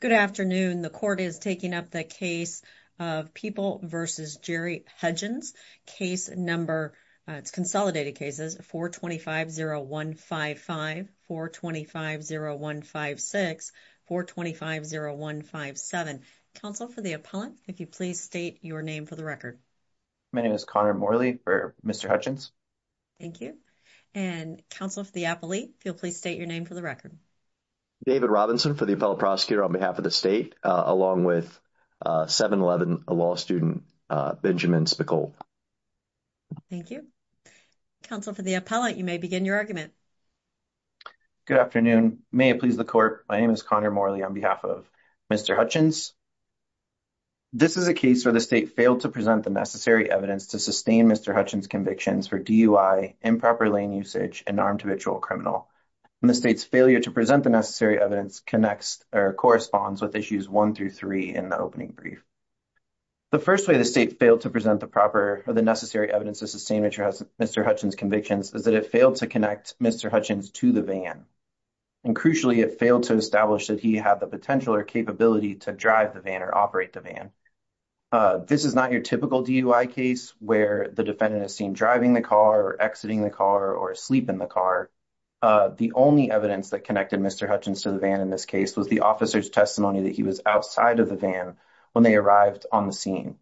Good afternoon. The court is taking up the case of People v. Jerry Hudgens. Case number, it's consolidated cases, 425-0155, 425-0156, 425-0157. Counsel for the appellant, if you please state your name for the record. My name is Connor Morley for Mr. Hudgens. Thank you. And counsel for the appellate, if you'll please state your name for the record. David Robinson for the appellate prosecutor on behalf of the state, along with 7-11 law student Benjamin Spicol. Thank you. Counsel for the appellate, you may begin your argument. Good afternoon. May it please the court, my name is Connor Morley on behalf of Mr. Hudgens. This is a case where the state failed to present the necessary evidence to sustain Mr. Hudgens' convictions for DUI, improper lane usage, and armed habitual criminal. And the state's failure to present the necessary evidence connects or corresponds with issues 1 through 3 in the opening brief. The first way the state failed to present the proper or the necessary evidence to sustain Mr. Hudgens' convictions is that it failed to connect Mr. Hudgens to the van. And crucially, it failed to establish that he had the potential or capability to drive the van or operate the van. This is not your typical DUI case where the defendant is seen driving the car or exiting the car or asleep in the car. The only evidence that connected Mr. Hudgens to the van in this case was the officer's testimony that he was outside of the van when they arrived on the scene.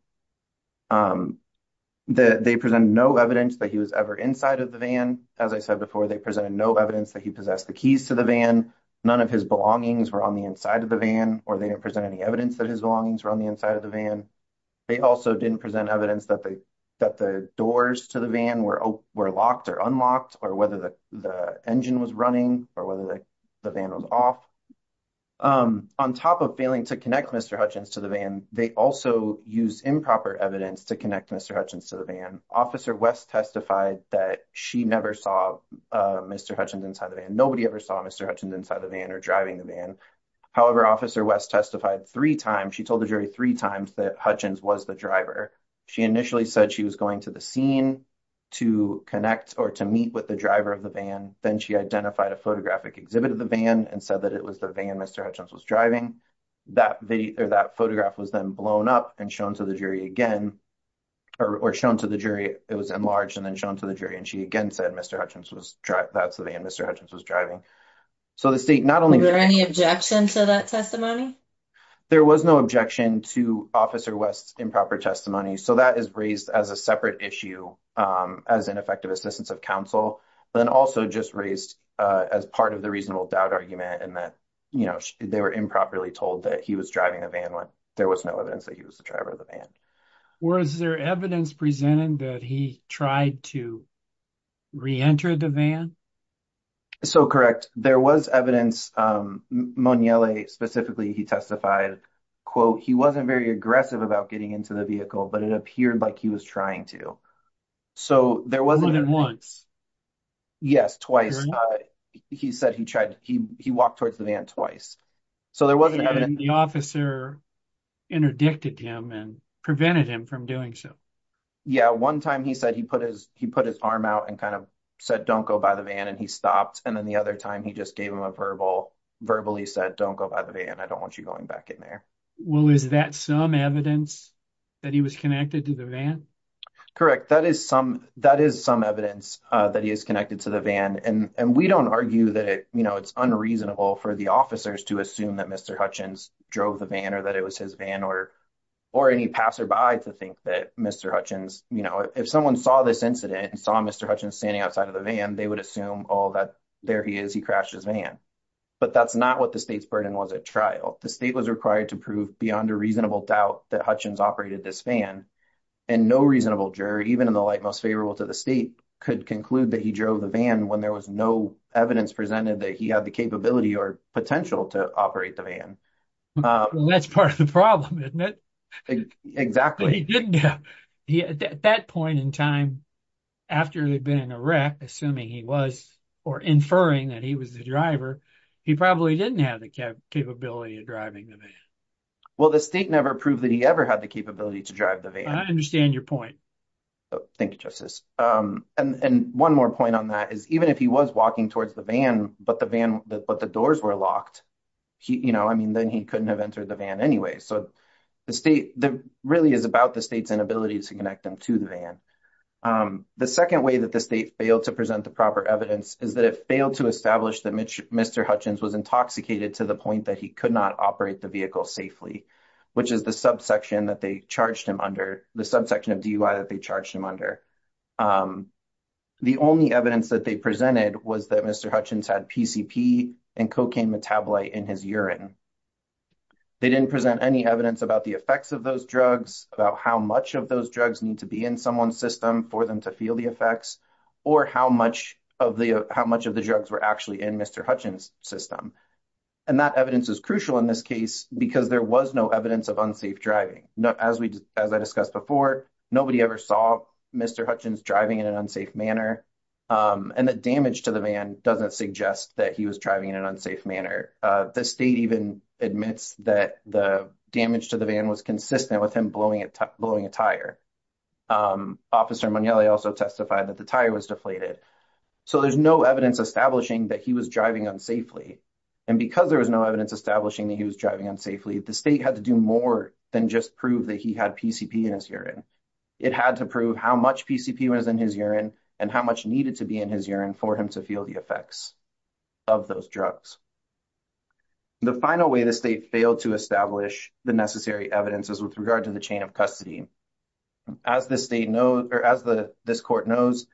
They presented no evidence that he was ever inside of the van. As I said before, they presented no evidence that he possessed the keys to the van. None of his belongings were on the inside of the van or they didn't present any evidence that his belongings were on the inside of the van. They also didn't present evidence that the doors to the van were locked or unlocked or whether the engine was running or whether the van was off. On top of failing to connect Mr. Hudgens to the van, they also used improper evidence to connect Mr. Hudgens to the van. Officer West testified that she never saw Mr. Hudgens inside the van. Nobody ever saw Mr. Hudgens inside the van or driving the van. However, Officer West testified three times. She told the jury three times that Hudgens was the driver. She initially said she was going to the scene to connect or to meet with the driver of the van. Then she identified a photographic exhibit of the van and said that it was the van Mr. Hudgens was driving. That photograph was then blown up and shown to the jury again or shown to the jury. It was enlarged and then shown to the jury and she again said that's the van Mr. Hudgens was driving. Were there any objections to that testimony? There was no objection to Officer West's improper testimony. So that is raised as a separate issue as an effective assistance of counsel. Then also just raised as part of the reasonable doubt argument and that they were improperly told that he was driving the van when there was no evidence that he was the driver of the van. Was there evidence presented that he tried to re-enter the van? So correct. There was evidence. Monelle specifically he testified, quote, he wasn't very aggressive about getting into the vehicle, but it appeared like he was trying to. So there was more than once. Yes, twice. He said he tried. He walked towards the van twice. So there wasn't the officer interdicted him and prevented him from doing so. Yeah. One time he said he put his he put his arm out and kind of said, don't go by the van and he stopped. And then the other time he just gave him a verbal verbally said, don't go by the van. I don't want you going back in there. Well, is that some evidence that he was connected to the van? Correct. That is some that is some evidence that he is connected to the van. And we don't argue that it's unreasonable for the officers to assume that Mr. Hutchins drove the van or that it was his van or or any passerby to think that Mr. Hutchins, you know, if someone saw this incident and saw Mr. Hutchins standing outside of the van, they would assume all that there he is. He crashed his van. But that's not what the state's burden was at trial. The state was required to prove beyond a reasonable doubt that Hutchins operated this van. And no reasonable jury, even in the light most favorable to the state, could conclude that he drove the van when there was no evidence presented that he had the capability or potential to operate the van. That's part of the problem, isn't it? Exactly. At that point in time, after they'd been in a wreck, assuming he was or inferring that he was the driver, he probably didn't have the capability of driving the van. Well, the state never proved that he ever had the capability to drive the van. I understand your point. Thank you, Justice. And one more point on that is even if he was walking towards the van, but the van, but the doors were locked, you know, I mean, then he couldn't have entered the van anyway. So the state really is about the state's inability to connect them to the van. The second way that the state failed to present the proper evidence is that it failed to establish that Mr. Hutchins was intoxicated to the point that he could not operate the vehicle safely, which is the subsection that they charged him under, the subsection of DUI that they charged him under. The only evidence that they presented was that Mr. Hutchins had PCP and cocaine metabolite in his urine. They didn't present any evidence about the effects of those drugs, about how much of those drugs need to be in someone's system for them to feel the effects, or how much of the drugs were actually in Mr. Hutchins' system. And that evidence is crucial in this case because there was no evidence of unsafe driving. As I discussed before, nobody ever saw Mr. Hutchins driving in an unsafe manner, and the damage to the van doesn't suggest that he was driving in an unsafe manner. The state even admits that the damage to the van was consistent with him blowing a tire. Officer Mugnelli also testified that the tire was deflated. So there's no evidence establishing that he was driving unsafely. And because there was no evidence establishing that he was driving unsafely, the state had to do more than just prove that he had PCP in his urine. It had to prove how much PCP was in his urine and how much needed to be in his urine for him to feel the effects of those drugs. The final way the state failed to establish the necessary evidence is with regard to the chain of custody. As the state knows, or as this court knows,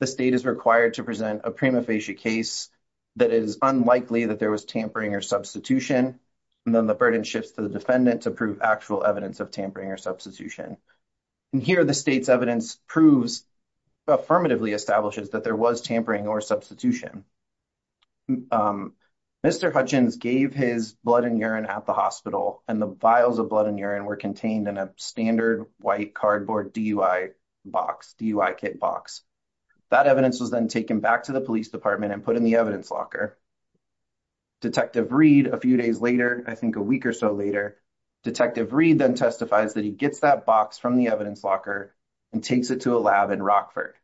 the state is required to present a prima facie case that is unlikely that there was tampering or substitution, and then the burden shifts to the defendant to prove actual evidence of tampering or substitution. And here the state's evidence proves, affirmatively establishes, that there was tampering or substitution. Mr. Hutchins gave his blood and urine at the hospital, and the vials of blood and urine were contained in a standard white cardboard DUI box, DUI kit box. That evidence was then taken back to the police department and put in the evidence locker. Detective Reed, a few days later, I think a week or so later, Detective Reed then testifies that he gets that box from the evidence locker and takes it to a lab in Rockford.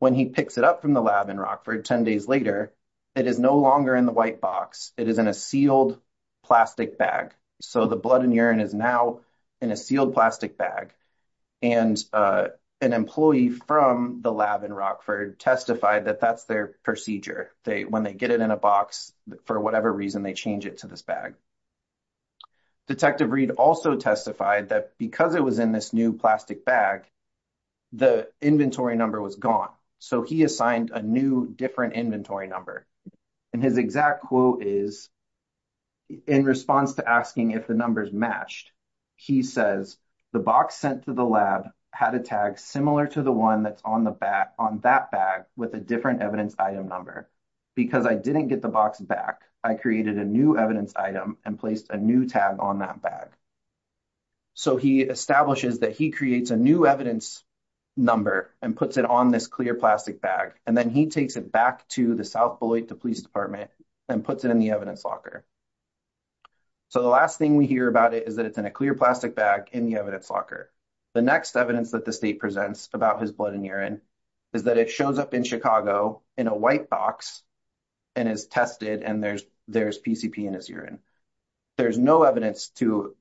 When he picks it up from the lab in Rockford, 10 days later, it is no longer in the white box. It is in a sealed plastic bag. So the blood and urine is now in a sealed plastic bag. And an employee from the lab in Rockford testified that that's their procedure. When they get it in a box, for whatever reason, they change it to this bag. Detective Reed also testified that because it was in this new plastic bag, the inventory number was gone. So he assigned a new, different inventory number. And his exact quote is, in response to asking if the numbers matched, he says, the box sent to the lab had a tag similar to the one that's on that bag with a different evidence item number. Because I didn't get the box back, I created a new evidence item and placed a new tag on that bag. So he establishes that he creates a new evidence number and puts it on this clear plastic bag. And then he takes it back to the South Beloit Police Department and puts it in the evidence locker. So the last thing we hear about it is that it's in a clear plastic bag in the evidence locker. The next evidence that the state presents about his blood and urine is that it shows up in Chicago in a white box and is tested and there's PCP in his urine. There's no evidence to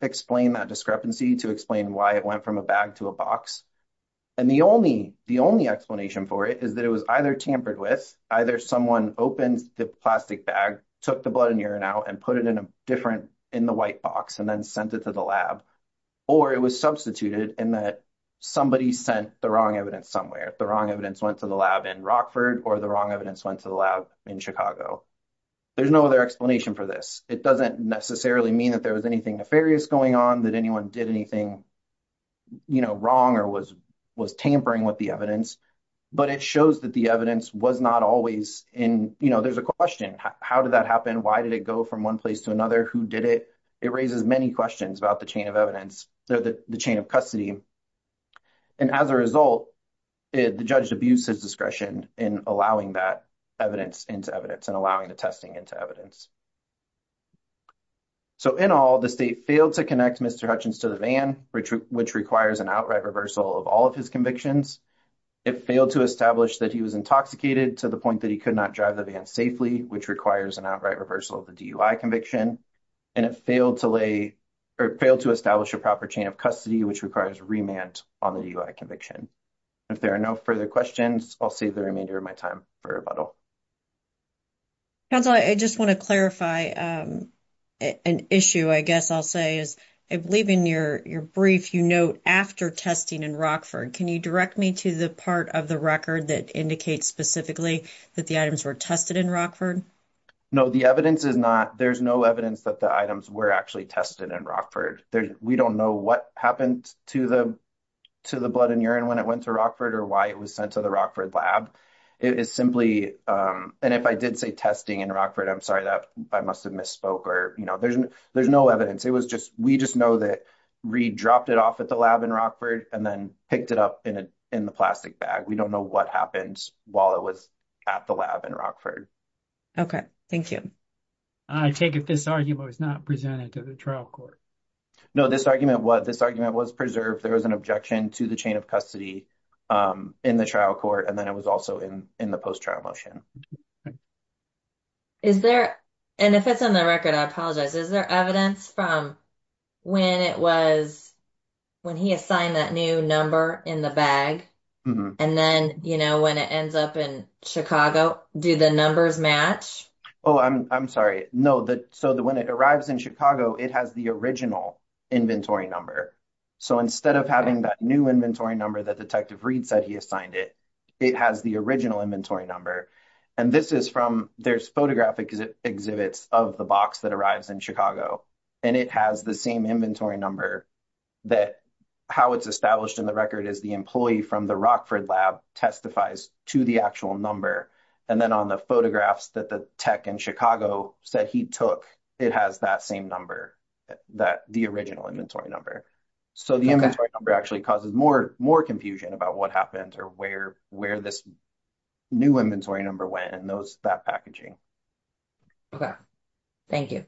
explain that discrepancy, to explain why it went from a bag to a box. And the only explanation for it is that it was either tampered with, either someone opens the plastic bag, took the blood and urine out and put it in a different, in the white box and then sent it to the lab. Or it was substituted in that somebody sent the wrong evidence somewhere. The wrong evidence went to the lab in Rockford or the wrong evidence went to the lab in Chicago. There's no other explanation for this. It doesn't necessarily mean that there was anything nefarious going on, that anyone did anything wrong or was tampering with the evidence. But it shows that the evidence was not always in, you know, there's a question. How did that happen? Why did it go from one place to another? Who did it? It raises many questions about the chain of evidence, the chain of custody. And as a result, the judge abused his discretion in allowing that evidence into evidence and allowing the testing into evidence. So in all, the state failed to connect Mr. Hutchins to the van, which requires an outright reversal of all of his convictions. It failed to establish that he was intoxicated to the point that he could not drive the van safely, which requires an outright reversal of the DUI conviction. And it failed to lay or failed to establish a proper chain of custody, which requires remand on the DUI conviction. If there are no further questions, I'll save the remainder of my time for rebuttal. Council, I just want to clarify an issue, I guess I'll say, is I believe in your brief, you note after testing in Rockford. Can you direct me to the part of the record that indicates specifically that the items were tested in Rockford? No, the evidence is not. There's no evidence that the items were actually tested in Rockford. We don't know what happened to the blood and urine when it went to Rockford or why it was sent to the Rockford lab. It is simply and if I did say testing in Rockford, I'm sorry that I must have misspoke or there's no evidence. It was just we just know that Reid dropped it off at the lab in Rockford and then picked it up in the plastic bag. We don't know what happened while it was at the lab in Rockford. OK, thank you. I take it this argument was not presented to the trial court. No, this argument was this argument was preserved. There was an objection to the chain of custody in the trial court, and then it was also in the post-trial motion. Is there and if it's on the record, I apologize, is there evidence from when it was when he assigned that new number in the bag? And then, you know, when it ends up in Chicago, do the numbers match? Oh, I'm sorry. No. So when it arrives in Chicago, it has the original inventory number. So instead of having that new inventory number that Detective Reid said he assigned it, it has the original inventory number. And this is from there's photographic exhibits of the box that arrives in Chicago. And it has the same inventory number that how it's established in the record is the employee from the Rockford lab testifies to the actual number. And then on the photographs that the tech in Chicago said he took, it has that same number that the original inventory number. So the inventory number actually causes more more confusion about what happened or where where this new inventory number went. And those that packaging. Thank you.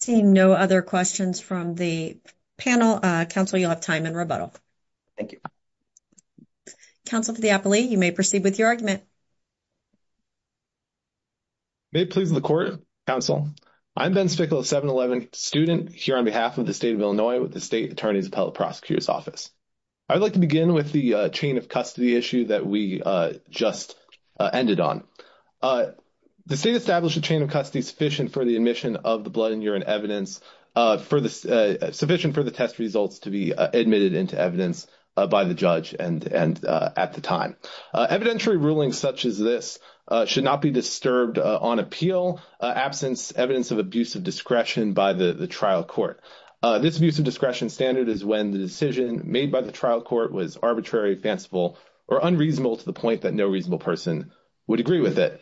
Seeing no other questions from the panel council, you'll have time in rebuttal. Thank you. Counsel for the appellee, you may proceed with your argument. May it please the court, counsel. I'm Ben Spickle, a 7-11 student here on behalf of the state of Illinois with the state attorney's appellate prosecutor's office. I'd like to begin with the chain of custody issue that we just ended on. The state established a chain of custody sufficient for the admission of the blood and urine evidence for the sufficient for the test results to be admitted into evidence by the judge and at the time. Evidentiary rulings such as this should not be disturbed on appeal, absence, evidence of abuse of discretion by the trial court. This abuse of discretion standard is when the decision made by the trial court was arbitrary, fanciful or unreasonable to the point that no reasonable person would agree with it.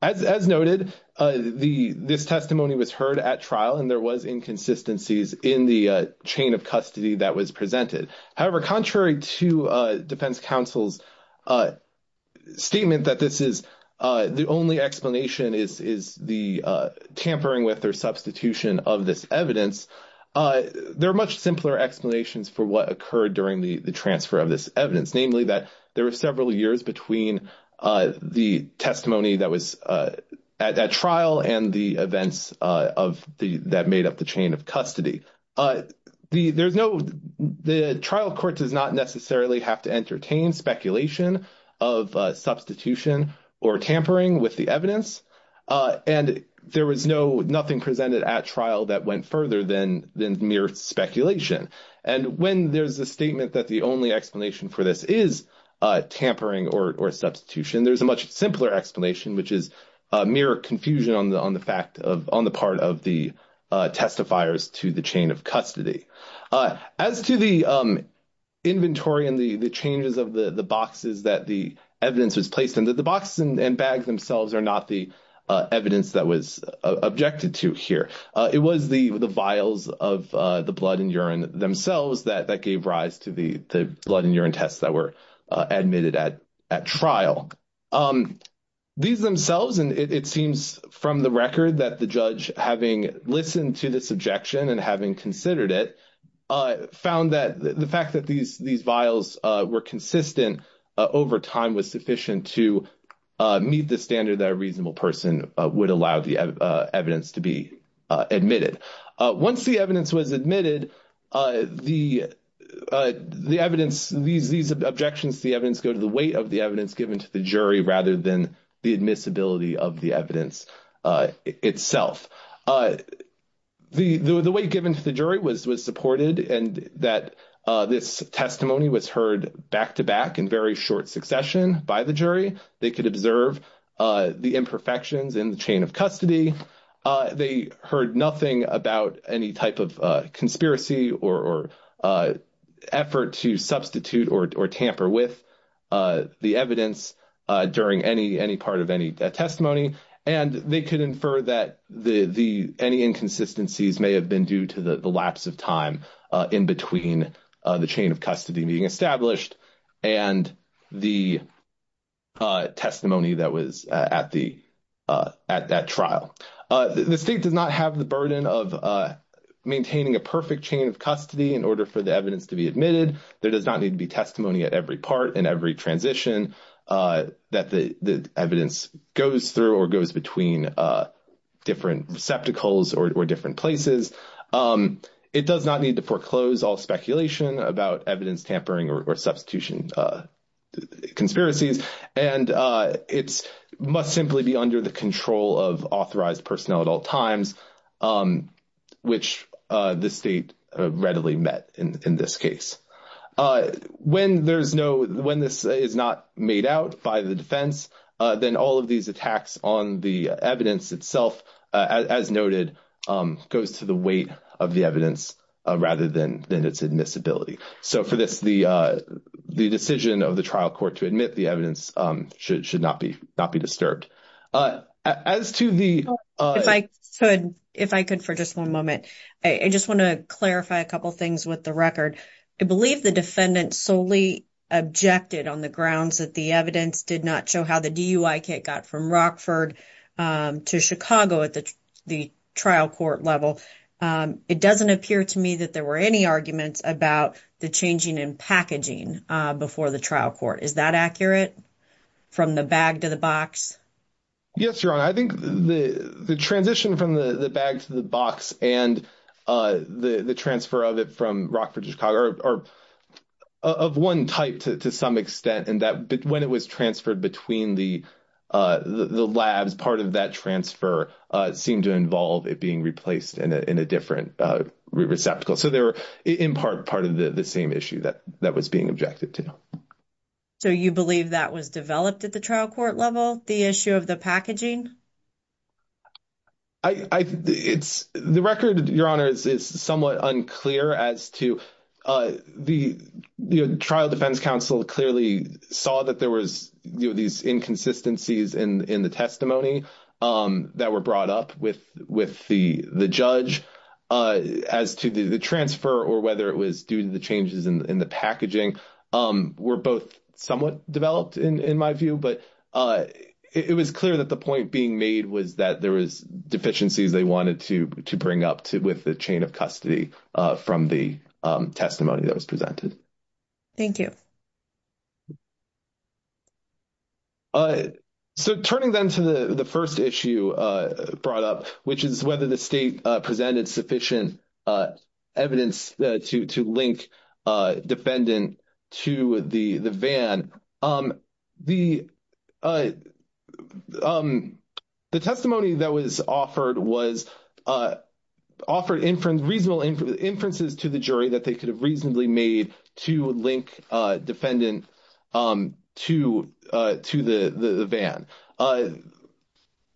As noted, this testimony was heard at trial and there was inconsistencies in the chain of custody that was presented. However, contrary to defense counsel's statement that this is the only explanation is the tampering with or substitution of this evidence, there are much simpler explanations for what occurred during the transfer of this evidence. Namely, that there were several years between the testimony that was at trial and the events that made up the chain of custody. The trial court does not necessarily have to entertain speculation of substitution or tampering with the evidence. And there was nothing presented at trial that went further than mere speculation. And when there's a statement that the only explanation for this is tampering or substitution, there's a much simpler explanation, which is mere confusion on the fact of on the part of the testifiers to the chain of custody. As to the inventory and the changes of the boxes that the evidence was placed into the box and bag themselves are not the evidence that was objected to here. It was the vials of the blood and urine themselves that gave rise to the blood and urine tests that were admitted at trial. These themselves, and it seems from the record that the judge, having listened to this objection and having considered it, found that the fact that these vials were consistent over time was sufficient to meet the standard that a reasonable person would allow the evidence to be admitted. Once the evidence was admitted, these objections to the evidence go to the weight of the evidence given to the jury rather than the admissibility of the evidence itself. The weight given to the jury was supported and that this testimony was heard back to back in very short succession by the jury. They could observe the imperfections in the chain of custody. They heard nothing about any type of conspiracy or effort to substitute or tamper with the evidence during any part of any testimony. And they could infer that any inconsistencies may have been due to the lapse of time in between the chain of custody being established and the testimony that was at that trial. The state does not have the burden of maintaining a perfect chain of custody in order for the evidence to be admitted. There does not need to be testimony at every part and every transition that the evidence goes through or goes between different receptacles or different places. It does not need to foreclose all speculation about evidence tampering or substitution conspiracies. And it must simply be under the control of authorized personnel at all times, which the state readily met in this case. When this is not made out by the defense, then all of these attacks on the evidence itself, as noted, goes to the weight of the evidence rather than its admissibility. So for this, the decision of the trial court to admit the evidence should not be disturbed. If I could for just one moment, I just want to clarify a couple of things with the record. I believe the defendant solely objected on the grounds that the evidence did not show how the DUI kit got from Rockford to Chicago at the trial court level. It doesn't appear to me that there were any arguments about the changing in packaging before the trial court. Is that accurate, from the bag to the box? Yes, Your Honor. I think the transition from the bag to the box and the transfer of it from Rockford to Chicago are of one type to some extent, and that when it was transferred between the labs, part of that transfer seemed to involve it being replaced in a different receptacle. So they were, in part, part of the same issue that was being objected to. So you believe that was developed at the trial court level, the issue of the packaging? The record, Your Honor, is somewhat unclear as to the trial defense counsel clearly saw that there was these inconsistencies in the testimony that were brought up with the judge. As to the transfer or whether it was due to the changes in the packaging were both somewhat developed, in my view. But it was clear that the point being made was that there was deficiencies they wanted to bring up with the chain of custody from the testimony that was presented. Thank you. So turning then to the first issue brought up, which is whether the state presented sufficient evidence to link defendant to the van. The testimony that was offered was offered reasonable inferences to the jury that they could have reasonably made to link defendant to the van.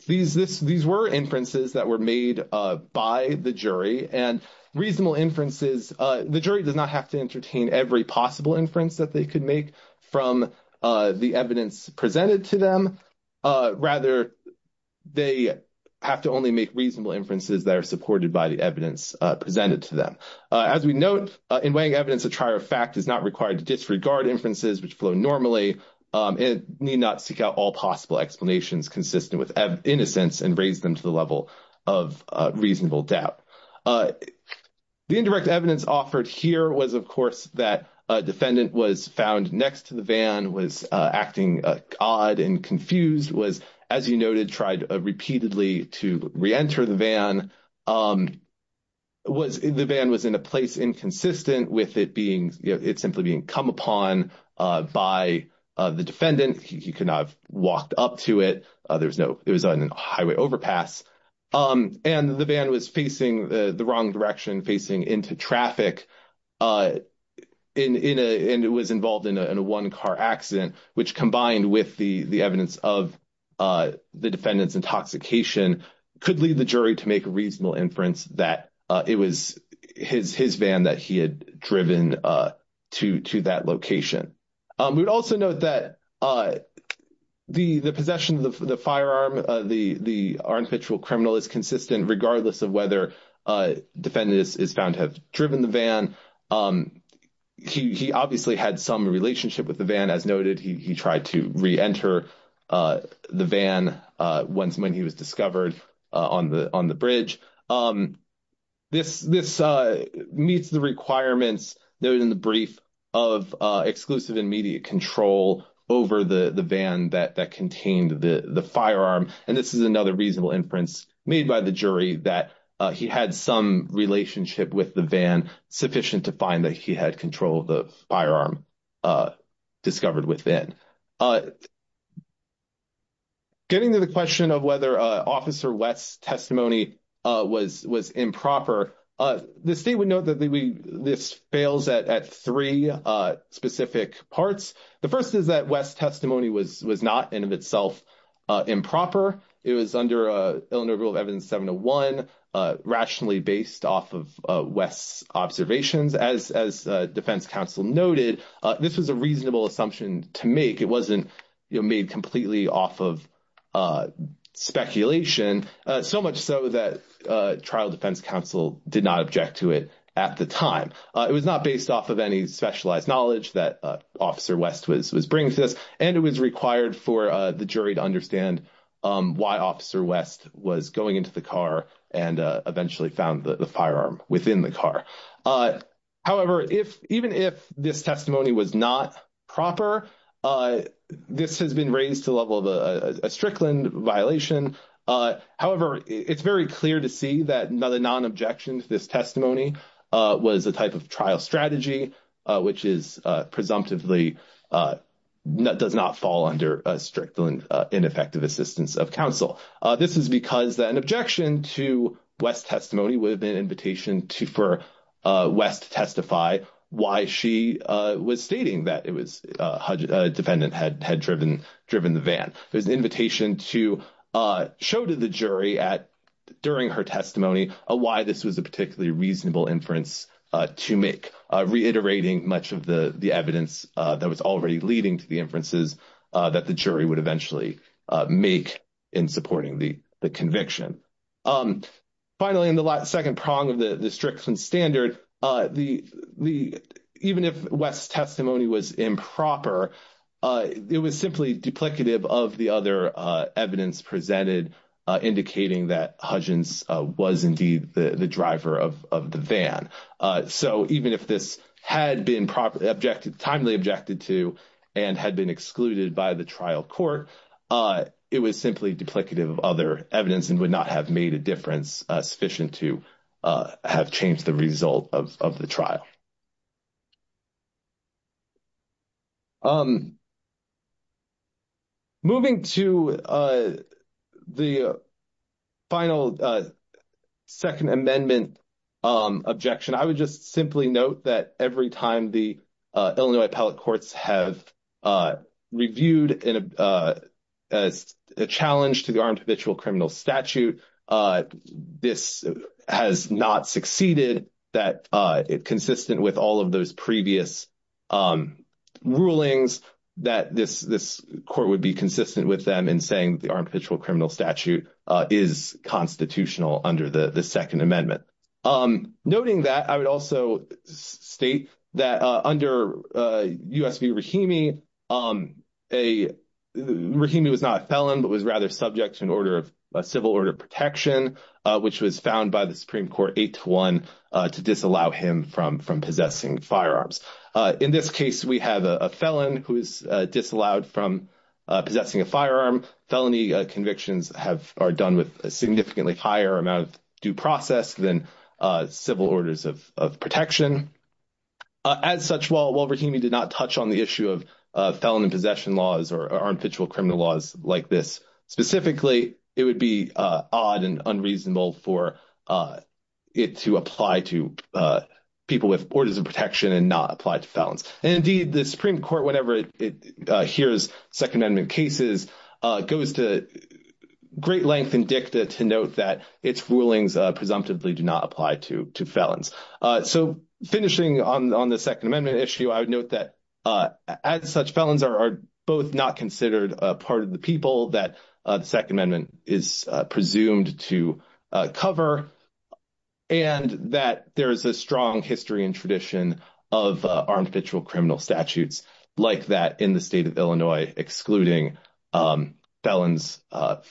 These were inferences that were made by the jury. And reasonable inferences, the jury does not have to entertain every possible inference that they could make from the evidence presented to them. Rather, they have to only make reasonable inferences that are supported by the evidence presented to them. As we note, in weighing evidence, a trier of fact is not required to disregard inferences which flow normally and need not seek out all possible explanations consistent with innocence and raise them to the level of reasonable doubt. The indirect evidence offered here was, of course, that a defendant was found next to the van, was acting odd and confused, was, as you noted, tried repeatedly to reenter the van. The van was in a place inconsistent with it simply being come upon by the defendant. He could not have walked up to it. It was on a highway overpass. And the van was facing the wrong direction, facing into traffic, and it was involved in a one-car accident, which combined with the evidence of the defendant's intoxication could lead the jury to make a reasonable inference that it was his van that he had driven to that location. We would also note that the possession of the firearm, the armpitrial criminal, is consistent regardless of whether the defendant is found to have driven the van. He obviously had some relationship with the van. As noted, he tried to reenter the van when he was discovered on the bridge. This meets the requirements noted in the brief of exclusive and immediate control over the van that contained the firearm. And this is another reasonable inference made by the jury that he had some relationship with the van sufficient to find that he had control of the firearm discovered within. Getting to the question of whether Officer West's testimony was improper, the state would note that this fails at three specific parts. The first is that West's testimony was not in and of itself improper. It was under Illinois Rule of Evidence 701, rationally based off of West's observations. As defense counsel noted, this was a reasonable assumption to make. It wasn't made completely off of speculation, so much so that trial defense counsel did not object to it at the time. It was not based off of any specialized knowledge that Officer West was bringing to this, and it was required for the jury to understand why Officer West was going into the car and eventually found the firearm within the car. However, even if this testimony was not proper, this has been raised to the level of a Strickland violation. However, it's very clear to see that the non-objection to this testimony was a type of trial strategy, which is presumptively does not fall under a Strickland ineffective assistance of counsel. This is because an objection to West's testimony would have been an invitation for West to testify why she was stating that a defendant had driven the van. It was an invitation to show to the jury during her testimony why this was a particularly reasonable inference to make, reiterating much of the evidence that was already leading to the inferences that the jury would eventually make in supporting the conviction. Finally, in the second prong of the Strickland standard, even if West's testimony was improper, it was simply duplicative of the other evidence presented indicating that Hudgens was indeed the driver of the van. So even if this had been timely objected to and had been excluded by the trial court, it was simply duplicative of other evidence and would not have made a difference sufficient to have changed the result of the trial. Moving to the final Second Amendment objection, I would just simply note that every time the Illinois appellate courts have reviewed as a challenge to the armed habitual criminal statute, this has not succeeded that it consistent with all of those previous rulings that this court would be consistent with them in saying the armed habitual criminal statute is constitutional under the Second Amendment. Noting that, I would also state that under U.S. v. Rahimi, Rahimi was not a felon but was rather subject to a civil order of protection, which was found by the Supreme Court 8-1 to disallow him from possessing firearms. In this case, we have a felon who is disallowed from possessing a firearm. Felony convictions are done with a significantly higher amount of due process than civil orders of protection. As such, while Rahimi did not touch on the issue of felon in possession laws or armed habitual criminal laws like this specifically, it would be odd and unreasonable for it to apply to people with orders of protection and not apply to felons. Indeed, the Supreme Court, whenever it hears Second Amendment cases, goes to great length and dicta to note that its rulings presumptively do not apply to felons. Finishing on the Second Amendment issue, I would note that, as such, felons are both not considered a part of the people that the Second Amendment is presumed to cover and that there is a strong history and tradition of armed habitual criminal statutes like that in the state of Illinois, excluding felons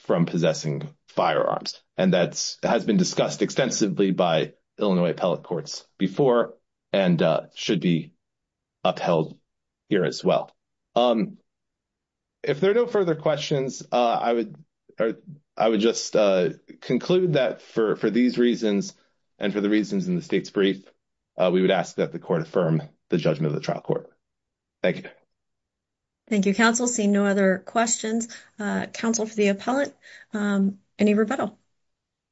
from possessing firearms. And that has been discussed extensively by Illinois appellate courts before and should be upheld here as well. If there are no further questions, I would just conclude that for these reasons and for the reasons in the state's brief, we would ask that the court affirm the judgment of the trial court. Thank you. Thank you, counsel. Seeing no other questions, counsel for the appellate. Any rebuttal?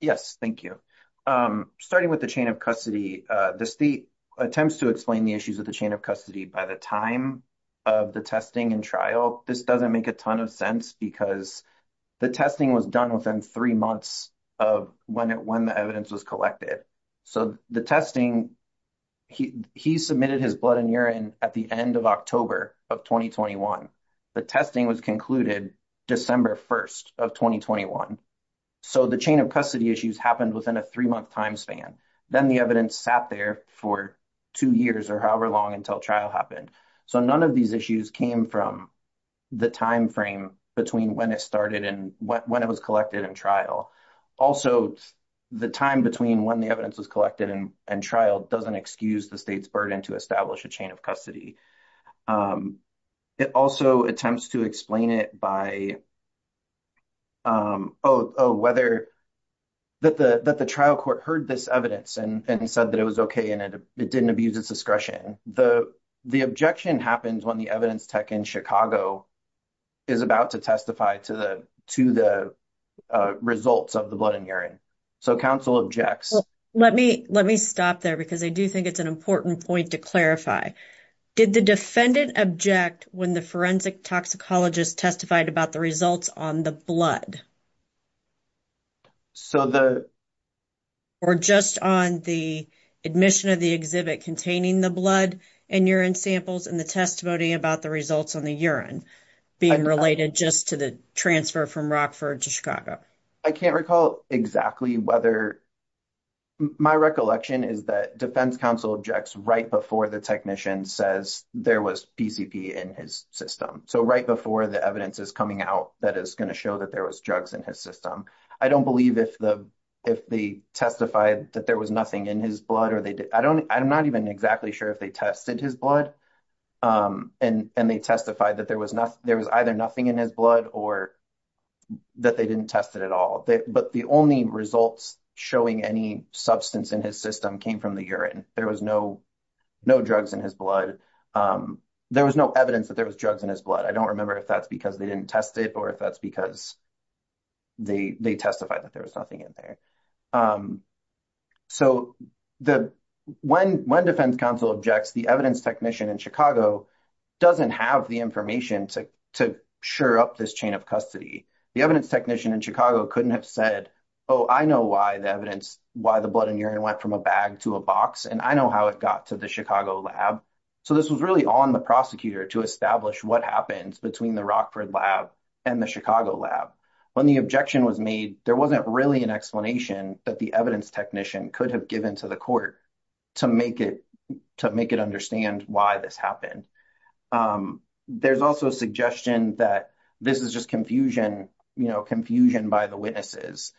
Yes, thank you. Starting with the chain of custody, the state attempts to explain the issues of the chain of custody by the time of the testing and trial. Well, this doesn't make a ton of sense because the testing was done within three months of when the evidence was collected. So the testing, he submitted his blood and urine at the end of October of 2021. The testing was concluded December 1st of 2021. So the chain of custody issues happened within a three month time span. Then the evidence sat there for two years or however long until trial happened. So none of these issues came from the timeframe between when it started and when it was collected in trial. Also, the time between when the evidence was collected and trial doesn't excuse the state's burden to establish a chain of custody. It also attempts to explain it by whether that the trial court heard this evidence and said that it was okay and it didn't abuse its discretion. The objection happens when the evidence tech in Chicago is about to testify to the results of the blood and urine. So counsel objects. Let me stop there because I do think it's an important point to clarify. Did the defendant object when the forensic toxicologist testified about the results on the blood? So the. Or just on the admission of the exhibit containing the blood and urine samples and the testimony about the results on the urine being related just to the transfer from Rockford to Chicago. I can't recall exactly whether. My recollection is that defense counsel objects right before the technician says there was in his system. So, right before the evidence is coming out, that is going to show that there was drugs in his system. I don't believe if the, if the testified that there was nothing in his blood, or they, I don't, I'm not even exactly sure if they tested his blood and they testified that there was not, there was either nothing in his blood or. That they didn't test it at all, but the only results showing any substance in his system came from the urine. There was no. No drugs in his blood. There was no evidence that there was drugs in his blood. I don't remember if that's because they didn't test it or if that's because they, they testified that there was nothing in there. So, when defense counsel objects, the evidence technician in Chicago doesn't have the information to sure up this chain of custody. The evidence technician in Chicago couldn't have said, oh, I know why the evidence, why the blood and urine went from a bag to a box and I know how it got to the Chicago lab. So, this was really on the prosecutor to establish what happens between the Rockford lab and the Chicago lab. When the objection was made, there wasn't really an explanation that the evidence technician could have given to the court to make it, to make it understand why this happened. There's also a suggestion that this is just confusion, you know, confusion by the witnesses.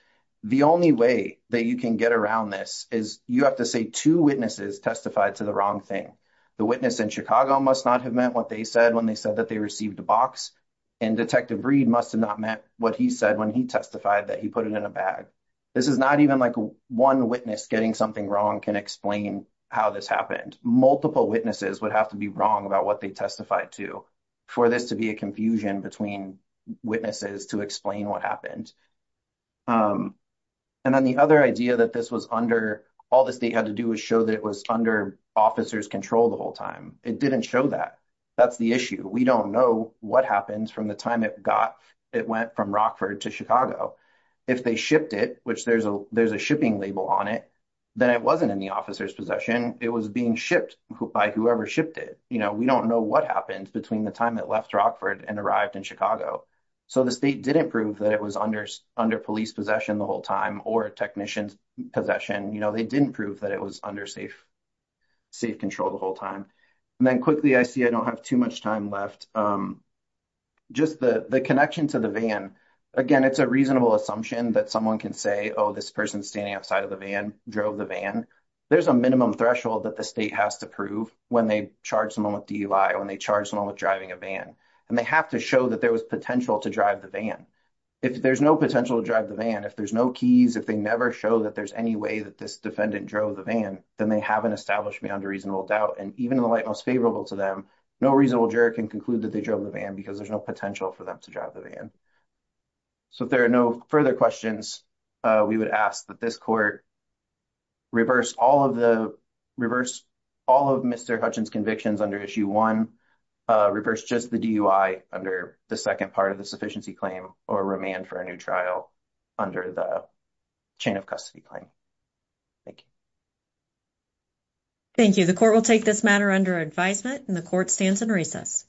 The only way that you can get around this is you have to say two witnesses testified to the wrong thing. The witness in Chicago must not have meant what they said when they said that they received a box and Detective Reed must have not meant what he said when he testified that he put it in a bag. This is not even like one witness getting something wrong can explain how this happened. Multiple witnesses would have to be wrong about what they testified to for this to be a confusion between witnesses to explain what happened. And then the other idea that this was under, all the state had to do was show that it was under officer's control the whole time. It didn't show that. That's the issue. We don't know what happened from the time it got, it went from Rockford to Chicago. If they shipped it, which there's a shipping label on it, then it wasn't in the officer's possession. It was being shipped by whoever shipped it. You know, we don't know what happened between the time it left Rockford and arrived in Chicago. So the state didn't prove that it was under police possession the whole time or technician's possession. You know, they didn't prove that it was under safe control the whole time. And then quickly, I see I don't have too much time left. Just the connection to the van. Again, it's a reasonable assumption that someone can say, oh, this person standing outside of the van drove the van. There's a minimum threshold that the state has to prove when they charge someone with DUI, when they charge someone with driving a van. And they have to show that there was potential to drive the van. If there's no potential to drive the van, if there's no keys, if they never show that there's any way that this defendant drove the van, then they haven't established beyond a reasonable doubt. And even in the light most favorable to them, no reasonable juror can conclude that they drove the van because there's no potential for them to drive the van. So if there are no further questions, we would ask that this court reverse all of the reverse all of Mr. Hutchins convictions under issue one. Reverse just the DUI under the second part of the sufficiency claim or remand for a new trial under the chain of custody claim. Thank you. Thank you. The court will take this matter under advisement and the court stands in recess.